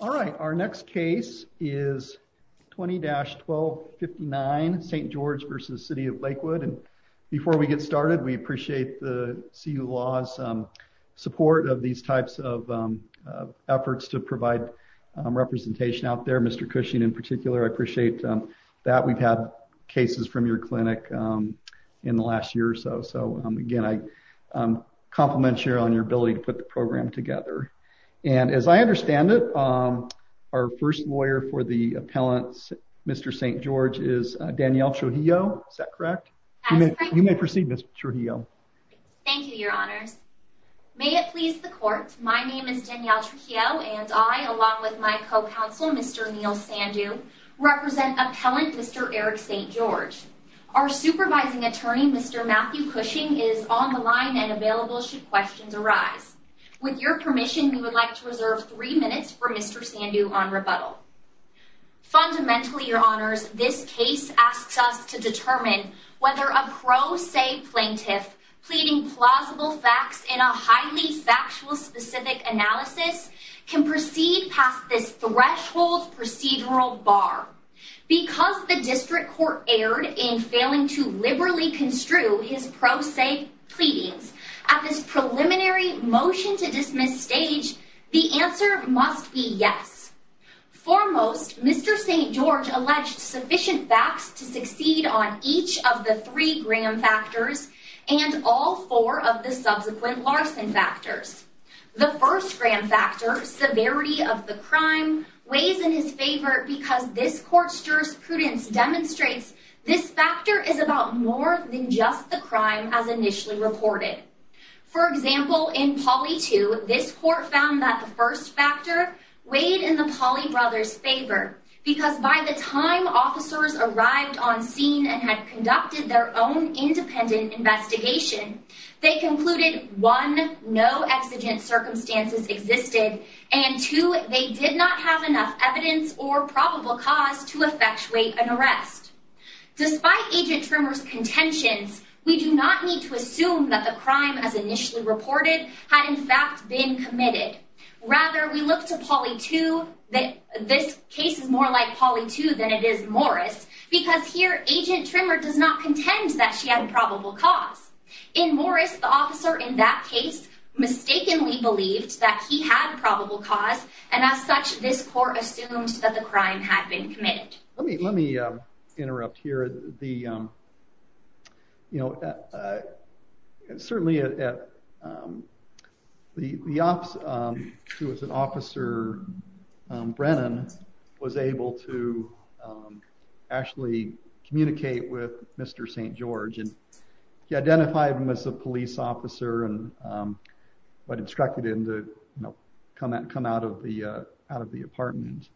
All right, our next case is 20-1259 St. George v. City of Lakewood. And before we get started, we appreciate the CU Law's support of these types of efforts to provide representation out there. Mr. Cushing in particular, I appreciate that. We've had cases from your clinic in the last year or so. So again, I compliment you on your ability to put the program together. And as I understand it, our first lawyer for the appellant, Mr. St. George, is Danielle Trujillo. Is that correct? You may proceed, Ms. Trujillo. Thank you, Your Honors. May it please the court, my name is Danielle Trujillo and I, along with my co-counsel, Mr. Neil Sandu, represent appellant Mr. Eric St. George. Our supervising attorney, Mr. Matthew Cushing, is on the line and available should questions arise. With your permission, we would like to reserve three minutes for Mr. Sandu on rebuttal. Fundamentally, Your Honors, this case asks us to determine whether a pro se plaintiff pleading plausible facts in a highly factual specific analysis can proceed past this threshold procedural bar. Because the district court erred in failing to liberally construe his pro se pleadings at this preliminary motion to dismiss stage, the answer must be yes. Foremost, Mr. St. George alleged sufficient facts to succeed on each of the three Graham factors and all four of the subsequent Larson factors. The first Graham factor, severity of the crime, weighs in his favor because this court's jurisprudence demonstrates this factor is more than just the crime as initially reported. For example, in poly two, this court found that the first factor weighed in the poly brother's favor because by the time officers arrived on scene and had conducted their own independent investigation, they concluded one, no exigent circumstances existed and two, they did not have enough evidence or probable cause to effectuate an arrest. Despite Agent Trimmer's contentions, we do not need to assume that the crime as initially reported had in fact been committed. Rather, we look to poly two, this case is more like poly two than it is Morris because here Agent Trimmer does not contend that she had a probable cause. In Morris, the officer in that case mistakenly believed that he had probable cause and as such, this court assumed that the crime had been committed. Let me interrupt here. Certainly, the officer who was an officer, Brennan, was able to actually communicate with Mr. St. George and he identified him as a police officer and what instructed him to come out of the apartment.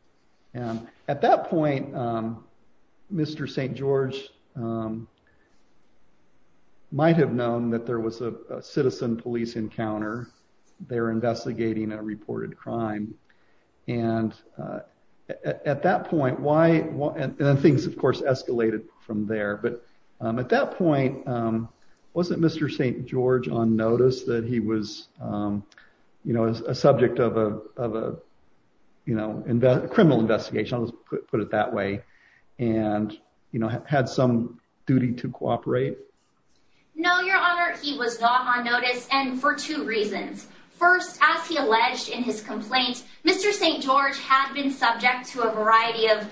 At that point, Mr. St. George might have known that there was a citizen police encounter. They were investigating a reported crime and at that point, things of course escalated from there, but at that point, wasn't Mr. St. George on notice that he was a subject of a criminal investigation, put it that way, and had some duty to cooperate? No, Your Honor, he was not on notice and for two reasons. First, as he alleged in his complaint, Mr. St. George had been subject to a variety of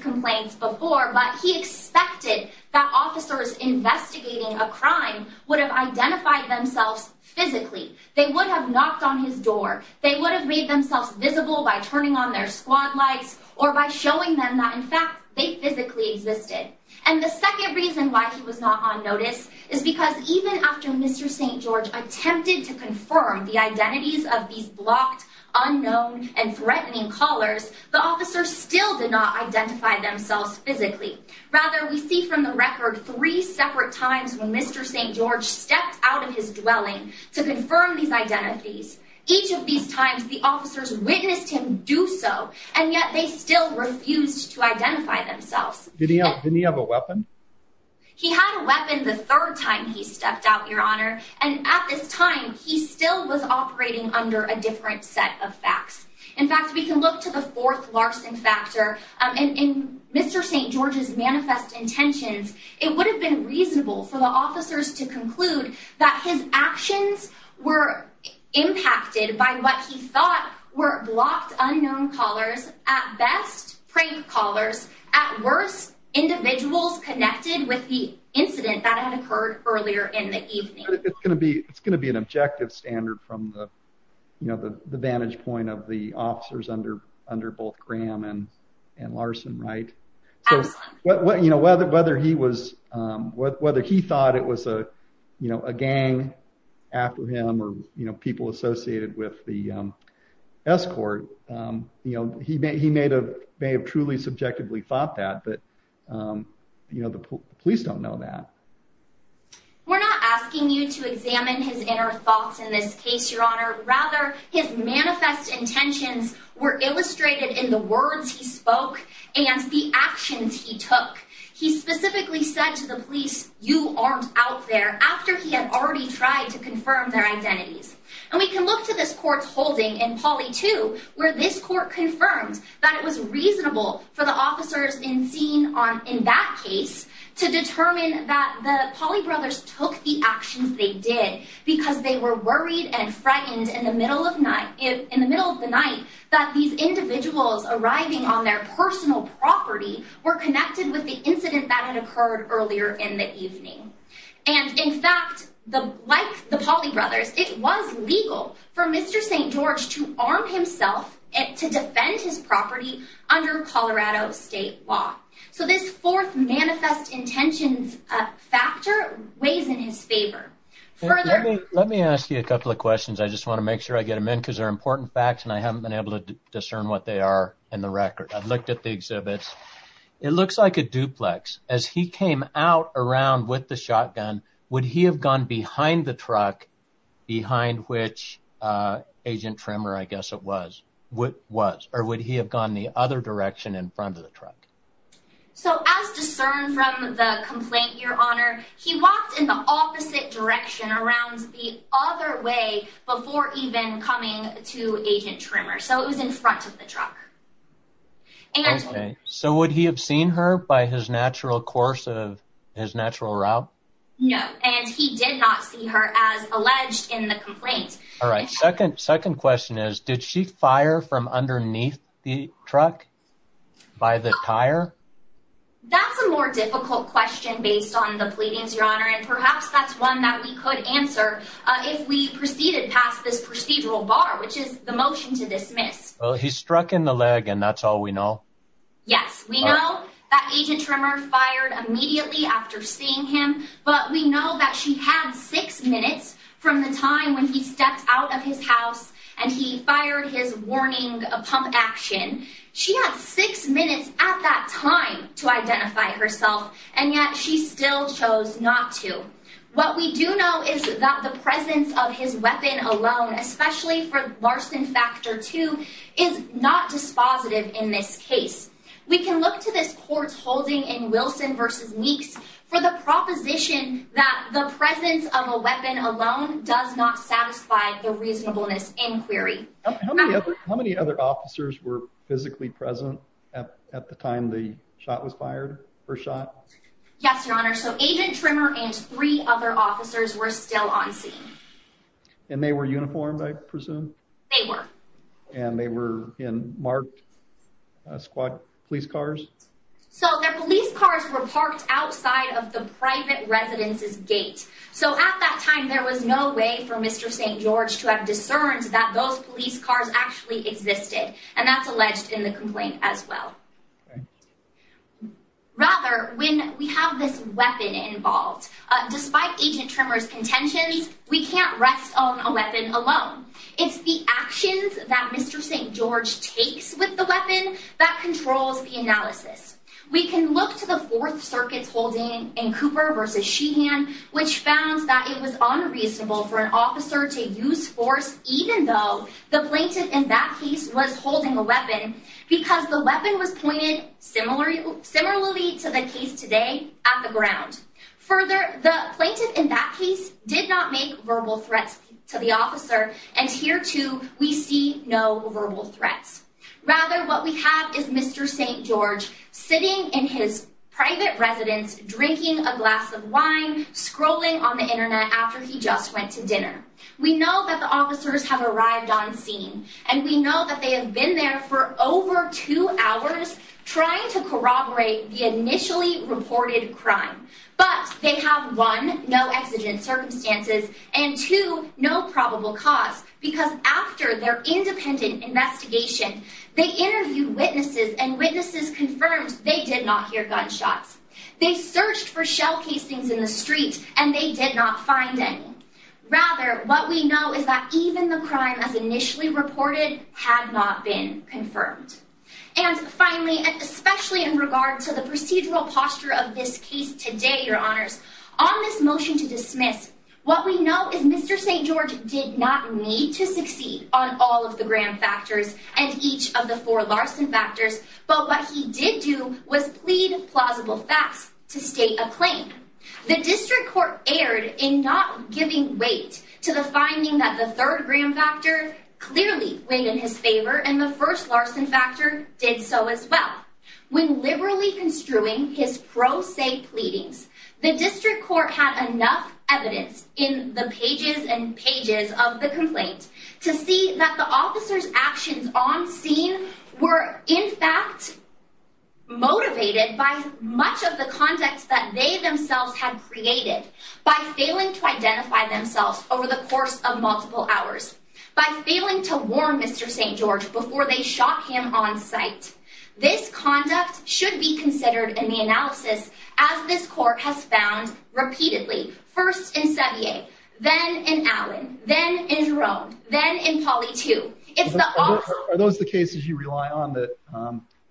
complaints before, but he expected that officers investigating a crime would have identified themselves physically. They would have knocked on his door. They would have made themselves visible by turning on their squad lights or by showing them that in fact, they physically existed and the second reason why he was not on notice is because even after Mr. St. George attempted to confirm the identities of these blocked, unknown, and threatening callers, the officer still did not identify themselves physically. Rather, we see from the record three separate times when Mr. St. George stepped out of his dwelling to confirm these identities. Each of these times, the officers witnessed him do so and yet they still refused to identify themselves. Didn't he have a weapon? He had a weapon the third time he stepped out, Your Honor, and at this time, he still was operating under a different set of facts. In fact, we can look to the fourth Larson factor and in Mr. St. George's manifest intentions, it would have been reasonable for the officers to conclude that his actions were impacted by what he thought were blocked, unknown callers, at best, prank callers, at worst, individuals connected with the incident that had occurred earlier in the evening. It's going to be an objective standard from the vantage point of the officers under both Graham and Larson, right? Absolutely. Whether he thought it was a gang after him or people associated with the escort, he may have truly subjectively thought that, but the police don't know that. We're not asking you to examine his inner thoughts in this case, Your Honor. Rather, his manifest intentions were illustrated in the words he spoke and the actions he took. He specifically said to the police, you aren't out there, after he had already tried to confirm their identities. And we can look to this court's holding in poly two, where this court confirmed that it was reasonable for the officers in scene on in that case to determine that the poly brothers took the actions they did because they were worried and frightened in the middle of night in the middle of the night, that these individuals arriving on their personal property were connected with the incident that had occurred earlier in the evening. And in fact, the, like the poly brothers, it was legal for Mr. St. George to arm himself to defend his property under Colorado state law. So this fourth manifest intentions factor weighs in his favor further. Let me ask you a couple of questions. I just want to make sure I get them in because they're important facts and I haven't been able to discern what they are in the record. I've looked at the exhibits. It looks like a duplex as he came out around with the shotgun. Would he have gone behind the truck behind which, uh, tremor, I guess it was what was, or would he have gone the other direction in front of the truck? So as discerned from the complaint, your honor, he walked in the opposite direction around the other way before even coming to agent tremor. So it was in front of the truck. So would he have seen her by his natural course of his natural route? No. And he did not see her as alleged in the complaint. All right. Second, second question is, did she fire from underneath the truck by the tire? That's a more difficult question based on the pleadings, your honor. And perhaps that's one that we could answer if we proceeded past this procedural bar, which is the motion to dismiss. Well, he struck in the leg and that's all we know. Yes. We know that agent tremor fired immediately after seeing him, but we know that she had six minutes from the time when he stepped out of his house and he fired his warning, a pump action. She had six minutes at that time to identify herself. And yet she still chose not to, what we do know is that the presence of his weapon alone, especially for Larson factor too, is not dispositive in this case. We can look to this court's holding in Wilson versus weeks for the proposition that the presence of a weapon alone does not satisfy the reasonableness inquiry. How many other officers were physically present at the time the shot was fired for shot? Yes, your honor. So agent tremor and three other officers were still on scene and they were uniformed. I presume they were, and they were in marked squad police cars. So their police cars were parked outside of the private residences gate. So at that time, there was no way for mr. St. George to have discerned that those police cars actually existed. And that's alleged in the complaint as well. Okay. Rather when we have this weapon involved, despite agent tremors contentions, we can't rest on a weapon alone. It's the actions that mr. St. George takes with the weapon that controls the analysis. We can look to the fourth circuits holding in Cooper versus she hand, which found that it was unreasonable for an officer to use force. Even though the plaintiff in that case was holding a weapon because the weapon was Further the plaintiff in that case did not make verbal threats to the officer. And here too, we see no verbal threats. Rather what we have is mr. St. George sitting in his private residence, drinking a glass of wine, scrolling on the internet. After he just went to dinner, we know that the officers have arrived on scene and we know that they have been there for over two hours trying to corroborate the initially reported crime, but they have one no exigent circumstances and two, no probable cause because after their independent investigation, they interviewed witnesses and witnesses confirmed. They did not hear gunshots. They searched for shell casings in the street and they did not find any rather. What we know is that even the crime as initially reported had not been confirmed. And finally, especially in regard to the procedural posture of this case today, your honors on this motion to dismiss what we know is mr. St. George did not need to succeed on all of the Graham factors and each of the four Larson factors. But what he did do was plead plausible facts to state a claim. The district court erred in not giving weight to the finding that the third Graham factor clearly went in his favor. And the first Larson factor did so as well. When liberally construing his pro se pleadings, the district court had enough evidence in the pages and pages of the complaint to see that the officer's actions on scene were in fact motivated by much of the context that they themselves had created by failing to identify themselves over the course of multiple hours, by failing to warn Mr. St. George before they shot him on site. This conduct should be considered in the analysis as this court has found repeatedly first in Sevier, then in Allen, then in Jerome, then in Polly too. It's the officer. Are those the cases you rely on that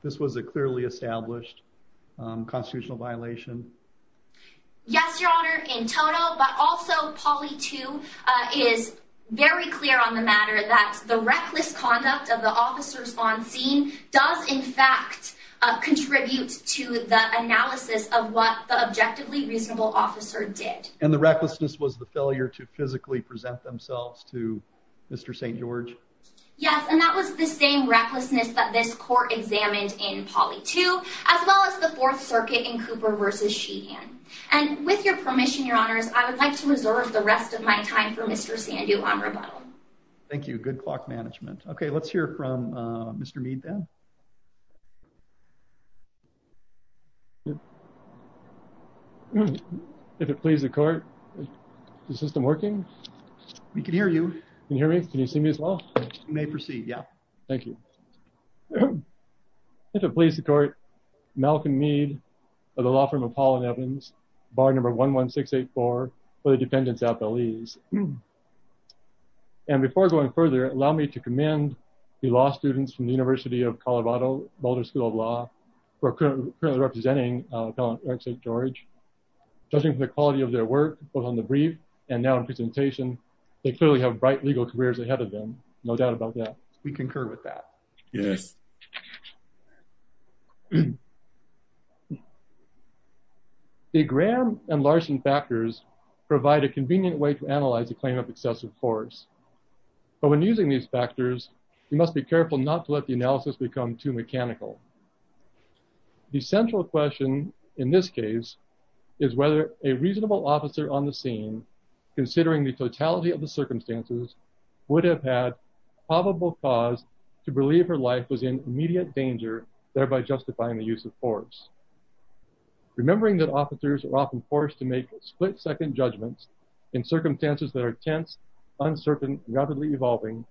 this was a clearly established constitutional violation? Yes, Your Honor, in total, but also Polly too is very clear on the matter that the reckless conduct of the officers on scene does in fact contribute to the analysis of what the objectively reasonable officer did. And the recklessness was the failure to physically present themselves to Mr. St. George? Yes, and that was the same recklessness that this court examined in Polly too, as well as the Fourth Circuit in Cooper versus Sheehan. And with your permission, Your Honors, I would like to reserve the rest of my time for Mr. Sandhu on rebuttal. Thank you. Good clock management. Okay, let's hear from Mr. Mead then. If it pleases the court, is the system working? We can hear you. Can you hear me? Can you see me as well? You may proceed, yeah. Thank you. If it pleases the court, Malcolm Mead of the law firm of Paul and Evans, bar number 11684 for the dependents at Belize. And before going further, allow me to commend the law students from the University of Colorado, Boulder School of Law, who are currently representing Eric St. George. Judging from the quality of their work, both on the brief and now in presentation, they clearly have bright legal careers ahead of them. No doubt about that. We concur with that. Yes. The Graham and Larson factors provide a convenient way to analyze a claim of excessive force. But when using these factors, you must be careful not to let the analysis become too mechanical. The central question in this case is whether a reasonable officer on the scene, considering the totality of the circumstances, would have had probable cause to believe her life was in immediate danger, thereby justifying the use of force. Remembering that officers are often forced to make split-second judgments in circumstances that are tense, uncertain, and undoubtedly evolving,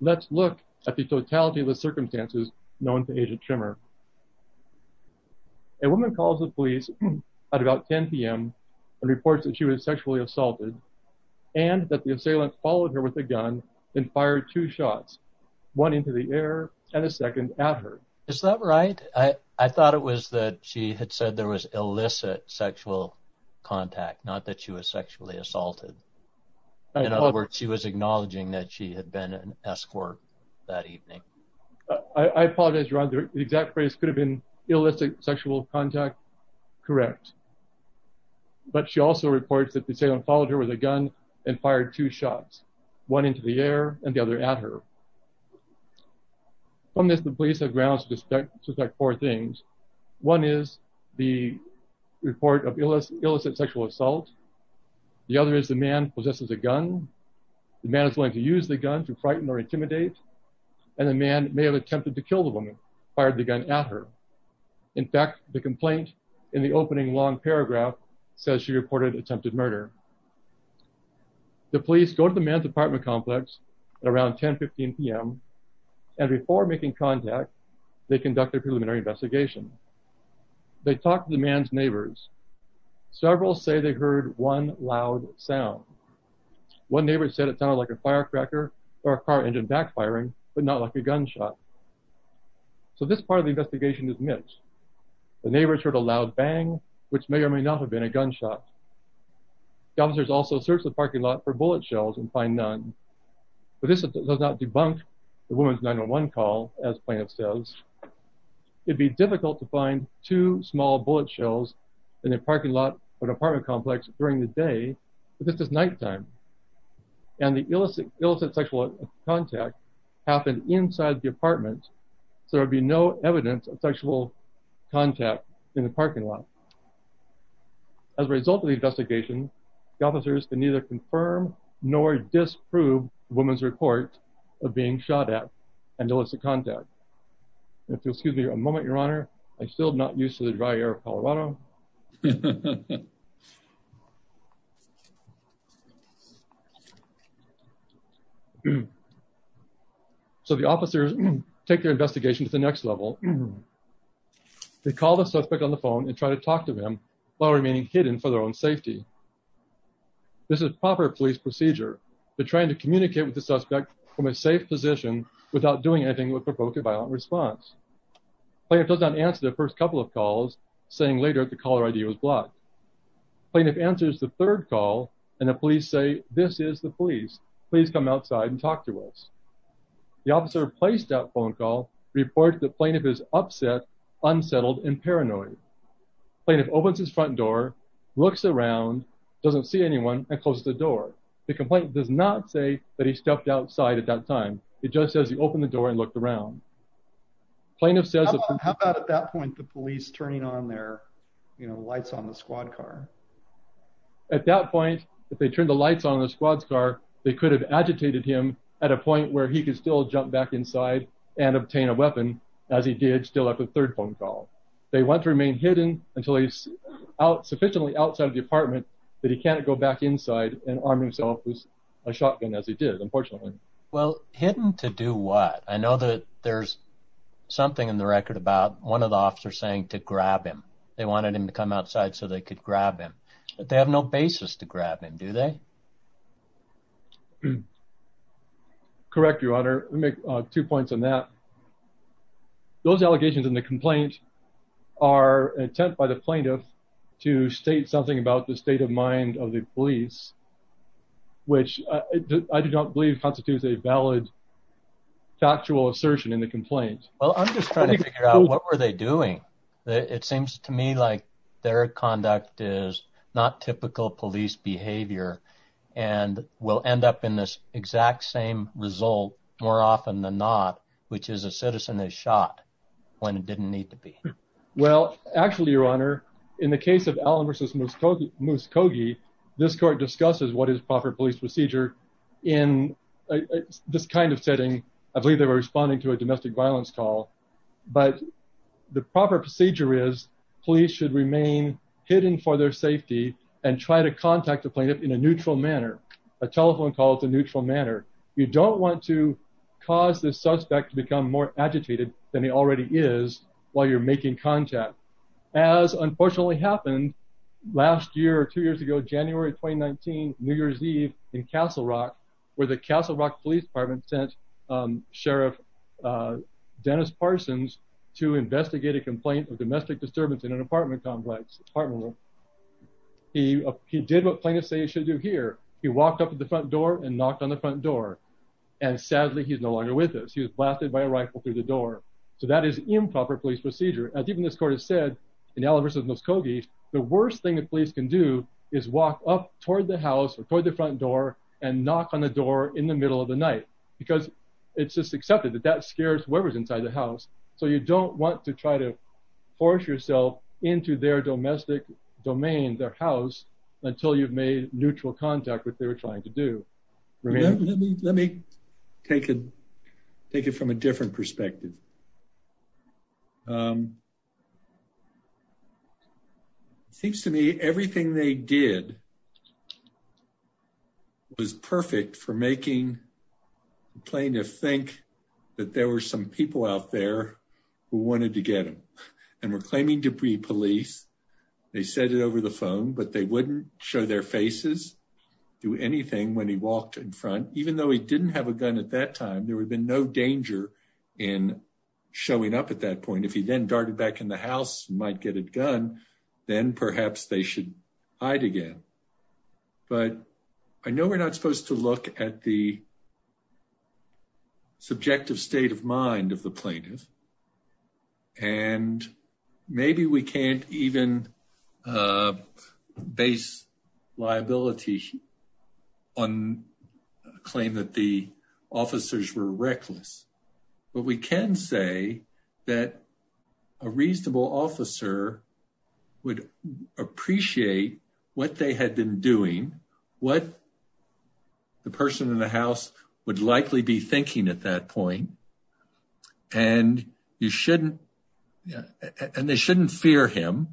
let's look at the totality of the circumstances known to Agent Trimmer. A woman calls the police at about 10 p.m. and reports that she was sexually assaulted and that the assailant followed her with a gun and fired two shots, one into the air and a second at her. Is that right? I thought it was that she had said there was illicit sexual contact, not that she was sexually assaulted. In other words, she was acknowledging that she had been an escort that evening. I apologize, Ron. The exact phrase could have been illicit sexual contact, correct. But she also reports that the assailant followed her with a gun and fired two shots, one into the air and the other at her. From this, the police have grounds to suspect four things. One is the report of illicit sexual assault. The other is the man possesses a gun. The man is going to use the gun to frighten or intimidate and the man may have attempted to kill the woman, fired the gun at her. In fact, the complaint in the opening long paragraph says she reported attempted murder. The police go to the man's apartment complex at around 10-15 p.m. and before making contact, they conduct a preliminary investigation. They talk to the man's neighbors. Several say they heard one loud sound. One neighbor said it sounded like a firecracker or a car engine backfiring, but not like a gunshot. So this part of the investigation is mixed. The neighbors heard a loud bang, which may or may not have been a gunshot. The officers also search the parking lot for bullet shells and find none. But this does not debunk the woman's 911 call, as plaintiff says. It'd be difficult to find two small bullet shells in the parking lot of an apartment complex during the day, but this is nighttime. And the illicit sexual contact happened inside the apartment, so there'd be no evidence of sexual contact in the parking lot. As a result of the investigation, the officers can neither confirm nor disprove the woman's report of being shot at and illicit contact. If you'll excuse me a moment, your honor, I'm still not used to the dry air of Colorado. So the officers take their investigation to the next level. They call the suspect on the phone and try to talk to him while remaining hidden for their safety. This is proper police procedure. They're trying to communicate with the suspect from a safe position without doing anything that would provoke a violent response. Plaintiff does not answer the first couple of calls, saying later that the caller ID was blocked. Plaintiff answers the third call, and the police say, this is the police. Please come outside and talk to us. The officer placed that phone call reports that plaintiff is upset, unsettled, and paranoid. Plaintiff opens his front door, looks around, doesn't see anyone, and closes the door. The complaint does not say that he stepped outside at that time. It just says he opened the door and looked around. Plaintiff says... How about at that point the police turning on their, you know, lights on the squad car? At that point, if they turned the lights on the squad's car, they could have agitated him at a point where he could still jump back inside and obtain a weapon, as he did still after the third phone call. They want to remain hidden until he's out, sufficiently outside of the apartment, that he can't go back inside and arm himself with a shotgun, as he did, unfortunately. Well, hidden to do what? I know that there's something in the record about one of the officers saying to grab him. They wanted him to come outside so they could grab him, but they have no basis to grab him, do they? Correct, Your Honor. Let me make two points on that. Those allegations in the complaint are an attempt by the plaintiff to state something about the state of mind of the police, which I do not believe constitutes a valid factual assertion in the complaint. Well, I'm just trying to figure out what were they doing. It seems to me like their conduct is not typical police behavior and will end up in this exact same result, more often than not, which is a citizen is shot when it didn't need to be. Well, actually, Your Honor, in the case of Allen v. Muskogee, this court discusses what is proper police procedure in this kind of setting. I believe they were responding to a domestic violence call, but the proper procedure is should remain hidden for their safety and try to contact the plaintiff in a neutral manner. A telephone call is a neutral manner. You don't want to cause the suspect to become more agitated than he already is while you're making contact, as unfortunately happened last year or two years ago, January 2019, New Year's Eve in Castle Rock, where the Castle Rock Police Department sent Sheriff Dennis Parsons to investigate a complaint of domestic disturbance in an apartment complex. He did what plaintiffs say he should do here. He walked up to the front door and knocked on the front door. And sadly, he's no longer with us. He was blasted by a rifle through the door. So that is improper police procedure. As even this court has said in Allen v. Muskogee, the worst thing that police can do is walk up toward the house or toward the front door and knock on the door in the middle of the night, because it's just accepted that that scares whoever's inside the house. So you don't want to try to force yourself into their domestic domain, their house, until you've made neutral contact with what they were trying to do. Let me take it from a different perspective. It seems to me everything they did was perfect for making the plaintiff think that there were some people out there who wanted to get him and were claiming to be police. They said it over the phone, but they wouldn't show their faces, do anything when he walked in front, even though he didn't have a gun at that time. There would have been no danger in showing up at that point. If he then darted back in the house and might get a gun, then perhaps they should hide again. But I know we're not supposed to look at the subjective state of mind of the plaintiff. And maybe we can't even base liability on a claim that the officers were reckless. But we can say that a reasonable officer would appreciate what they had been doing, what the person in the house would likely be thinking at that point. And they shouldn't fear him.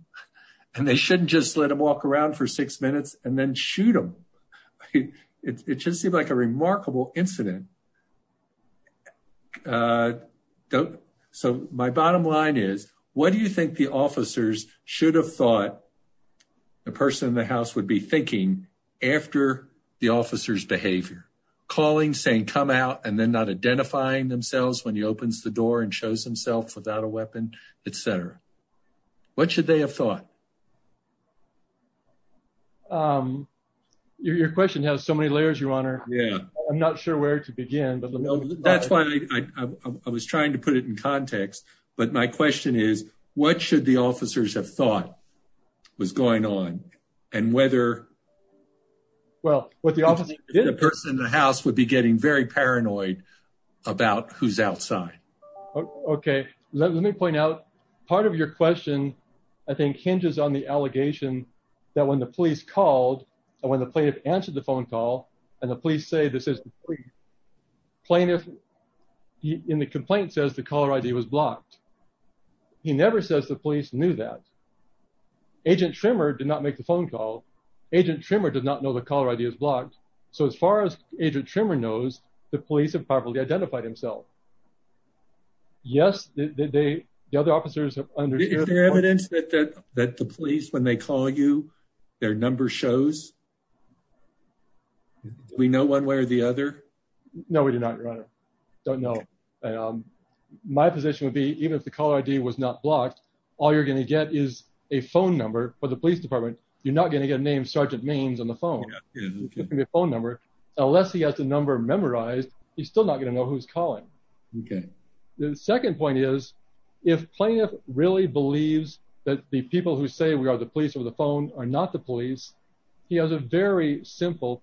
And they shouldn't just let him walk around for six minutes and then shoot him. It just seemed like a remarkable incident. So my bottom line is, what do you think the officers should have thought the person in the house should be thinking after the officer's behavior? Calling, saying come out, and then not identifying themselves when he opens the door and shows himself without a weapon, etc. What should they have thought? Your question has so many layers, Your Honor. I'm not sure where to begin. That's why I was trying to put it in context. But my question is, what should the officers have thought was going on? And whether the person in the house would be getting very paranoid about who's outside. Okay, let me point out, part of your question, I think hinges on the allegation that when the police called, and when the plaintiff answered the phone call, and the police say this is the plaintiff, and the complainant says the caller ID was blocked. He never says the police knew that. Agent Trimmer did not make the phone call. Agent Trimmer does not know the caller ID is blocked. So as far as Agent Trimmer knows, the police have probably identified himself. Yes, the other officers have understood. Is there evidence that the police, when they call you, their number shows? Do we know one way or the other? No, we do not, Your Honor. Don't know. My position would be even if the caller ID was not blocked, all you're going to get is a phone number for the police department. You're not going to get named Sergeant Means on the phone. Give me a phone number. Unless he has the number memorized. He's still not going to know who's calling. Okay. The second point is, if plaintiff really believes that the people who say we are the police or the phone are not the police, he has a very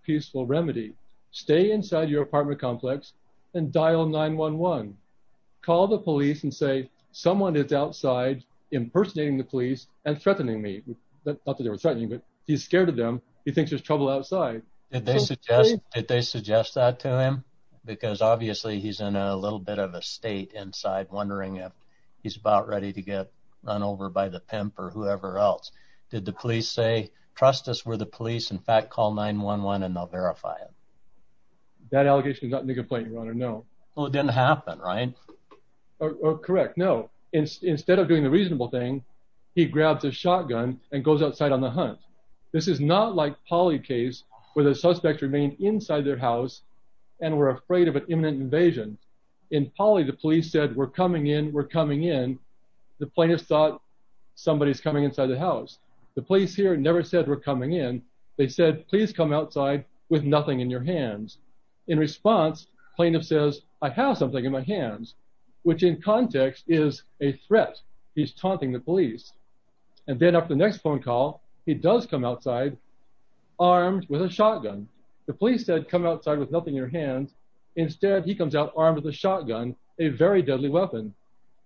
peaceful remedy. Stay inside your apartment complex and dial 911. Call the police and say someone is outside impersonating the police and threatening me. Not that they were threatening, but he's scared of them. He thinks there's trouble outside. Did they suggest that to him? Because obviously he's in a little bit of a state inside, wondering if he's about ready to get run and they'll verify it. That allegation is not in the complaint, Your Honor. No. Well, it didn't happen, right? Correct. No. Instead of doing the reasonable thing, he grabs a shotgun and goes outside on the hunt. This is not like Polly case where the suspects remained inside their house and were afraid of an imminent invasion. In Polly, the police said, we're coming in, we're coming in. The plaintiff thought somebody's coming inside the house. The police here never said we're coming in. They said, please come outside with nothing in your hands. In response, plaintiff says, I have something in my hands, which in context is a threat. He's taunting the police. And then up the next phone call, he does come outside armed with a shotgun. The police said come outside with nothing in your hands. Instead, he comes out armed with a shotgun, a very deadly weapon.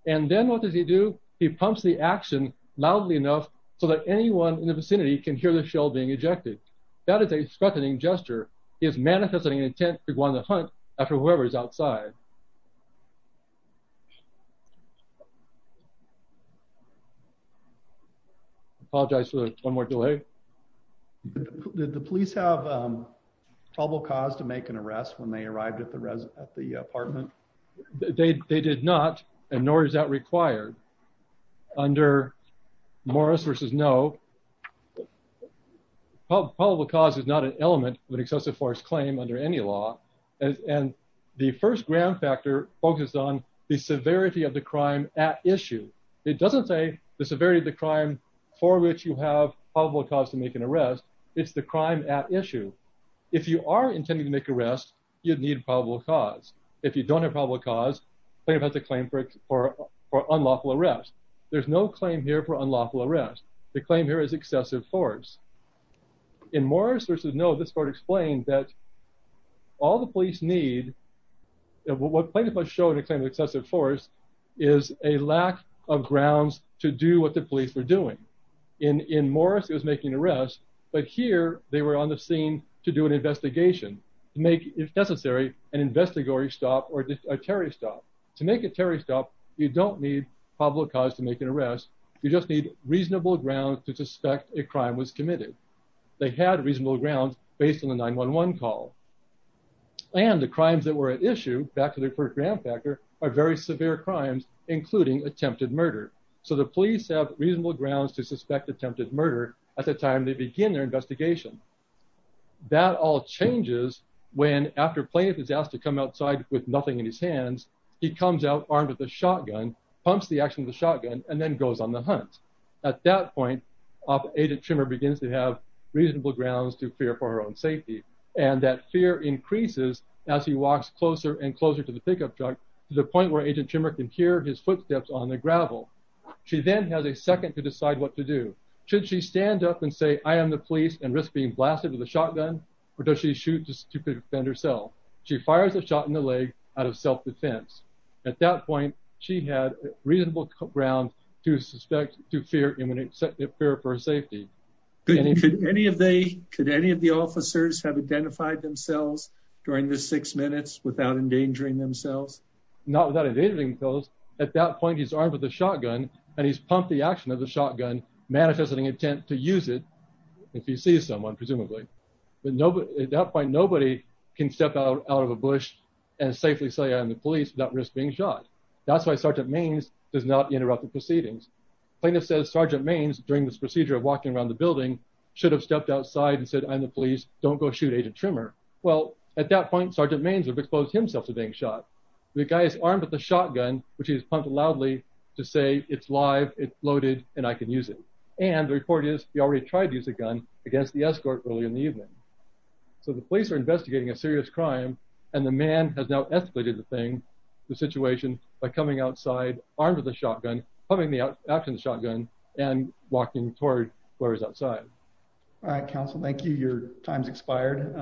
And then what does he do? He pumps the action loudly enough so that anyone in the house can hear the shell being ejected. That is a threatening gesture. He is manifesting an intent to go on the hunt after whoever is outside. I apologize for one more delay. Did the police have probable cause to make an arrest when they arrived at the apartment? They did not, and nor is that required. Under Morris v. No, probable cause is not an element of an excessive force claim under any law. And the first ground factor focused on the severity of the crime at issue. It doesn't say the severity of the crime for which you have probable cause to make an arrest. It's the crime at issue. If you are intending to make an arrest, you'd need probable cause. If you don't have probable cause, plaintiff has to claim for unlawful arrest. There's no claim here for unlawful arrest. The claim here is excessive force. In Morris v. No, this court explained that all the police need, what plaintiff has shown in the claim of excessive force, is a lack of grounds to do what the police were doing. In Morris, it was making an arrest, but here, they were on the scene to do an investigation, to make, if necessary, an investigatory stop or a terrorist stop. To make a terrorist stop, you don't need probable cause to make an arrest. You just need reasonable grounds to suspect a crime was committed. They had reasonable grounds based on the 911 call. And the crimes that were at issue, back to the first ground factor, are very severe crimes, including attempted murder. So the police have reasonable grounds to suspect attempted murder at the time they begin their investigation. That all changes when, after plaintiff is asked to come outside with nothing in his hands, he comes out armed with a shotgun, pumps the action of the shotgun, and then goes on the hunt. At that point, Agent Trimmer begins to have reasonable grounds to fear for her own safety, and that fear increases as he walks closer and closer to the pickup truck, to the point where he has a second to decide what to do. Should she stand up and say, I am the police, and risk being blasted with a shotgun? Or does she shoot to defend herself? She fires a shot in the leg out of self-defense. At that point, she had reasonable grounds to fear for her safety. Could any of the officers have identified themselves during the six minutes without endangering themselves? Not without endangering themselves. At that point, he's armed with a shotgun, manifesting intent to use it, if he sees someone, presumably. At that point, nobody can step out of a bush and safely say, I'm the police, without risk being shot. That's why Sergeant Maines does not interrupt the proceedings. Plaintiff says Sergeant Maines, during this procedure of walking around the building, should have stepped outside and said, I'm the police, don't go shoot Agent Trimmer. Well, at that point, Sergeant Maines would have exposed himself to being shot. The guy is armed with a shotgun, which he has pumped loudly to say, it's live, it's loaded, and I can use it. And the report is, he already tried to use a gun against the escort early in the evening. So the police are investigating a serious crime, and the man has now escalated the thing, the situation, by coming outside, armed with a shotgun, pumping the action shotgun, and walking toward where he's outside. All right, counsel, thank you. Your time's expired.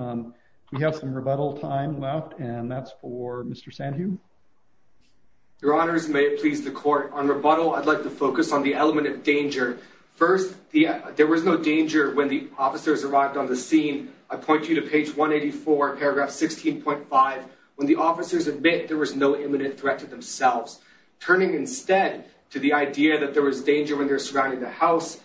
We have some rebuttal time left, and that's for Mr. Sandhu. Your honors, may it please the court, on rebuttal, I'd like to focus on the element of danger. First, there was no danger when the officers arrived on the scene. I point you to page 184, paragraph 16.5, when the officers admit there was no imminent threat to themselves. Turning instead to the idea that there was danger when they're surrounding the house,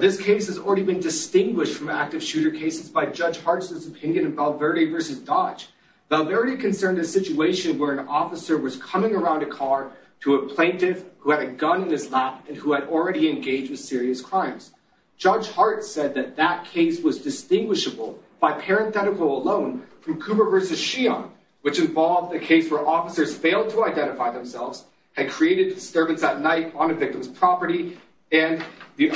this case has already been distinguished from active shooter cases by Judge Hart's opinion of Valverde versus Dodge. Valverde concerned a situation where an officer was coming around a car to a plaintiff who had a gun in his lap, and who had already engaged with serious crimes. Judge Hart said that that case was distinguishable by parenthetical alone from Cooper versus Sheehan, which involved a case where officers failed to identify themselves, had created disturbance at night on a victim's property, and the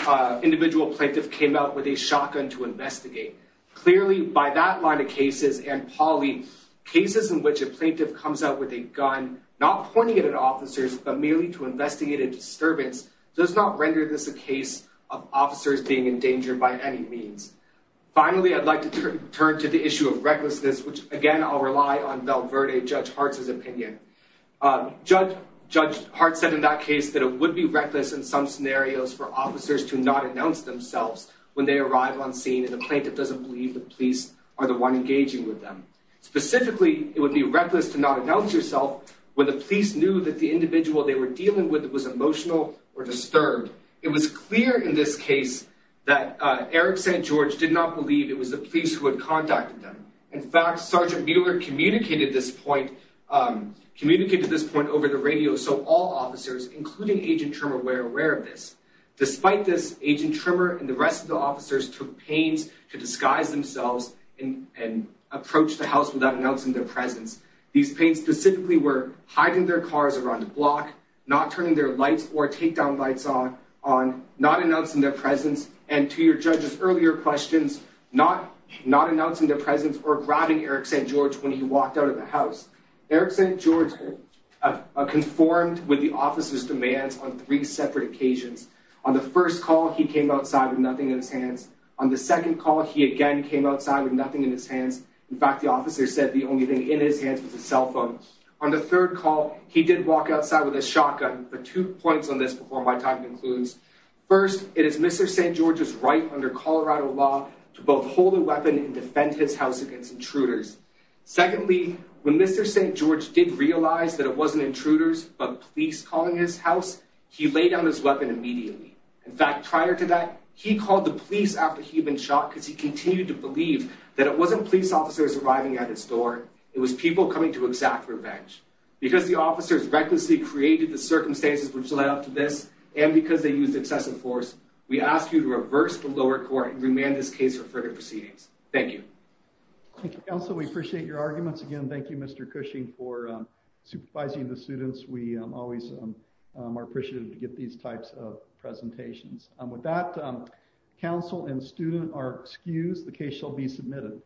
individual plaintiff came out with a shotgun to investigate. Clearly, by that line of cases and poly, cases in which a plaintiff comes out with a gun, not pointing it at officers, but merely to investigate a disturbance, does not render this a case of officers being in danger by any means. Finally, I'd like to turn to the issue of recklessness, which again, I'll rely on Valverde, Judge Hart's opinion. Judge Hart said in that case that it would be reckless in some scenarios for officers to not announce themselves when they arrive on scene, and the plaintiff doesn't believe the police are the one engaging with them. Specifically, it would be reckless to not announce yourself when the police knew that the individual they were dealing with was emotional or disturbed. It was clear in this case that Eric St. George did not believe it was the police who had contacted them. In fact, Sergeant Mueller communicated this point over the radio, so all officers, including Agent Tremor, were aware of this. Despite this, Agent Tremor and the rest of the officers took panes to disguise themselves and approach the house without announcing their presence. These panes specifically were hiding their cars around the block, not turning their lights or takedown lights on, not announcing their presence, and to your judge's earlier questions, not announcing their presence or grabbing Eric St. George when he walked out of the house. Eric St. George conformed with the officer's demands on three separate occasions. On the first call, he came outside with nothing in his hands. On the second call, he again came outside with nothing in his hands. In fact, the officer said the only thing in his hands was a cell phone. On the third call, he did walk outside with a shotgun, but two points on this before my time concludes. First, it is Mr. St. George's right under Colorado law to both hold a weapon and defend his house against intruders. Secondly, when Mr. St. George did realize that it wasn't intruders, but police calling his house, he laid down his weapon immediately. In fact, prior to that, he called the police after he'd been shot because he continued to believe that it wasn't police officers arriving at his door. It was people coming to exact revenge. Because the officers recklessly created the circumstances which led up to this, and because they used excessive force, we ask you to reverse the lower court and remand this case for further proceedings. Thank you. Thank you, counsel. We appreciate your arguments. Again, thank you, Mr. Cushing, for supervising the students. We always are appreciative to get these types of presentations. With that, counsel and student are excused. The case shall be submitted.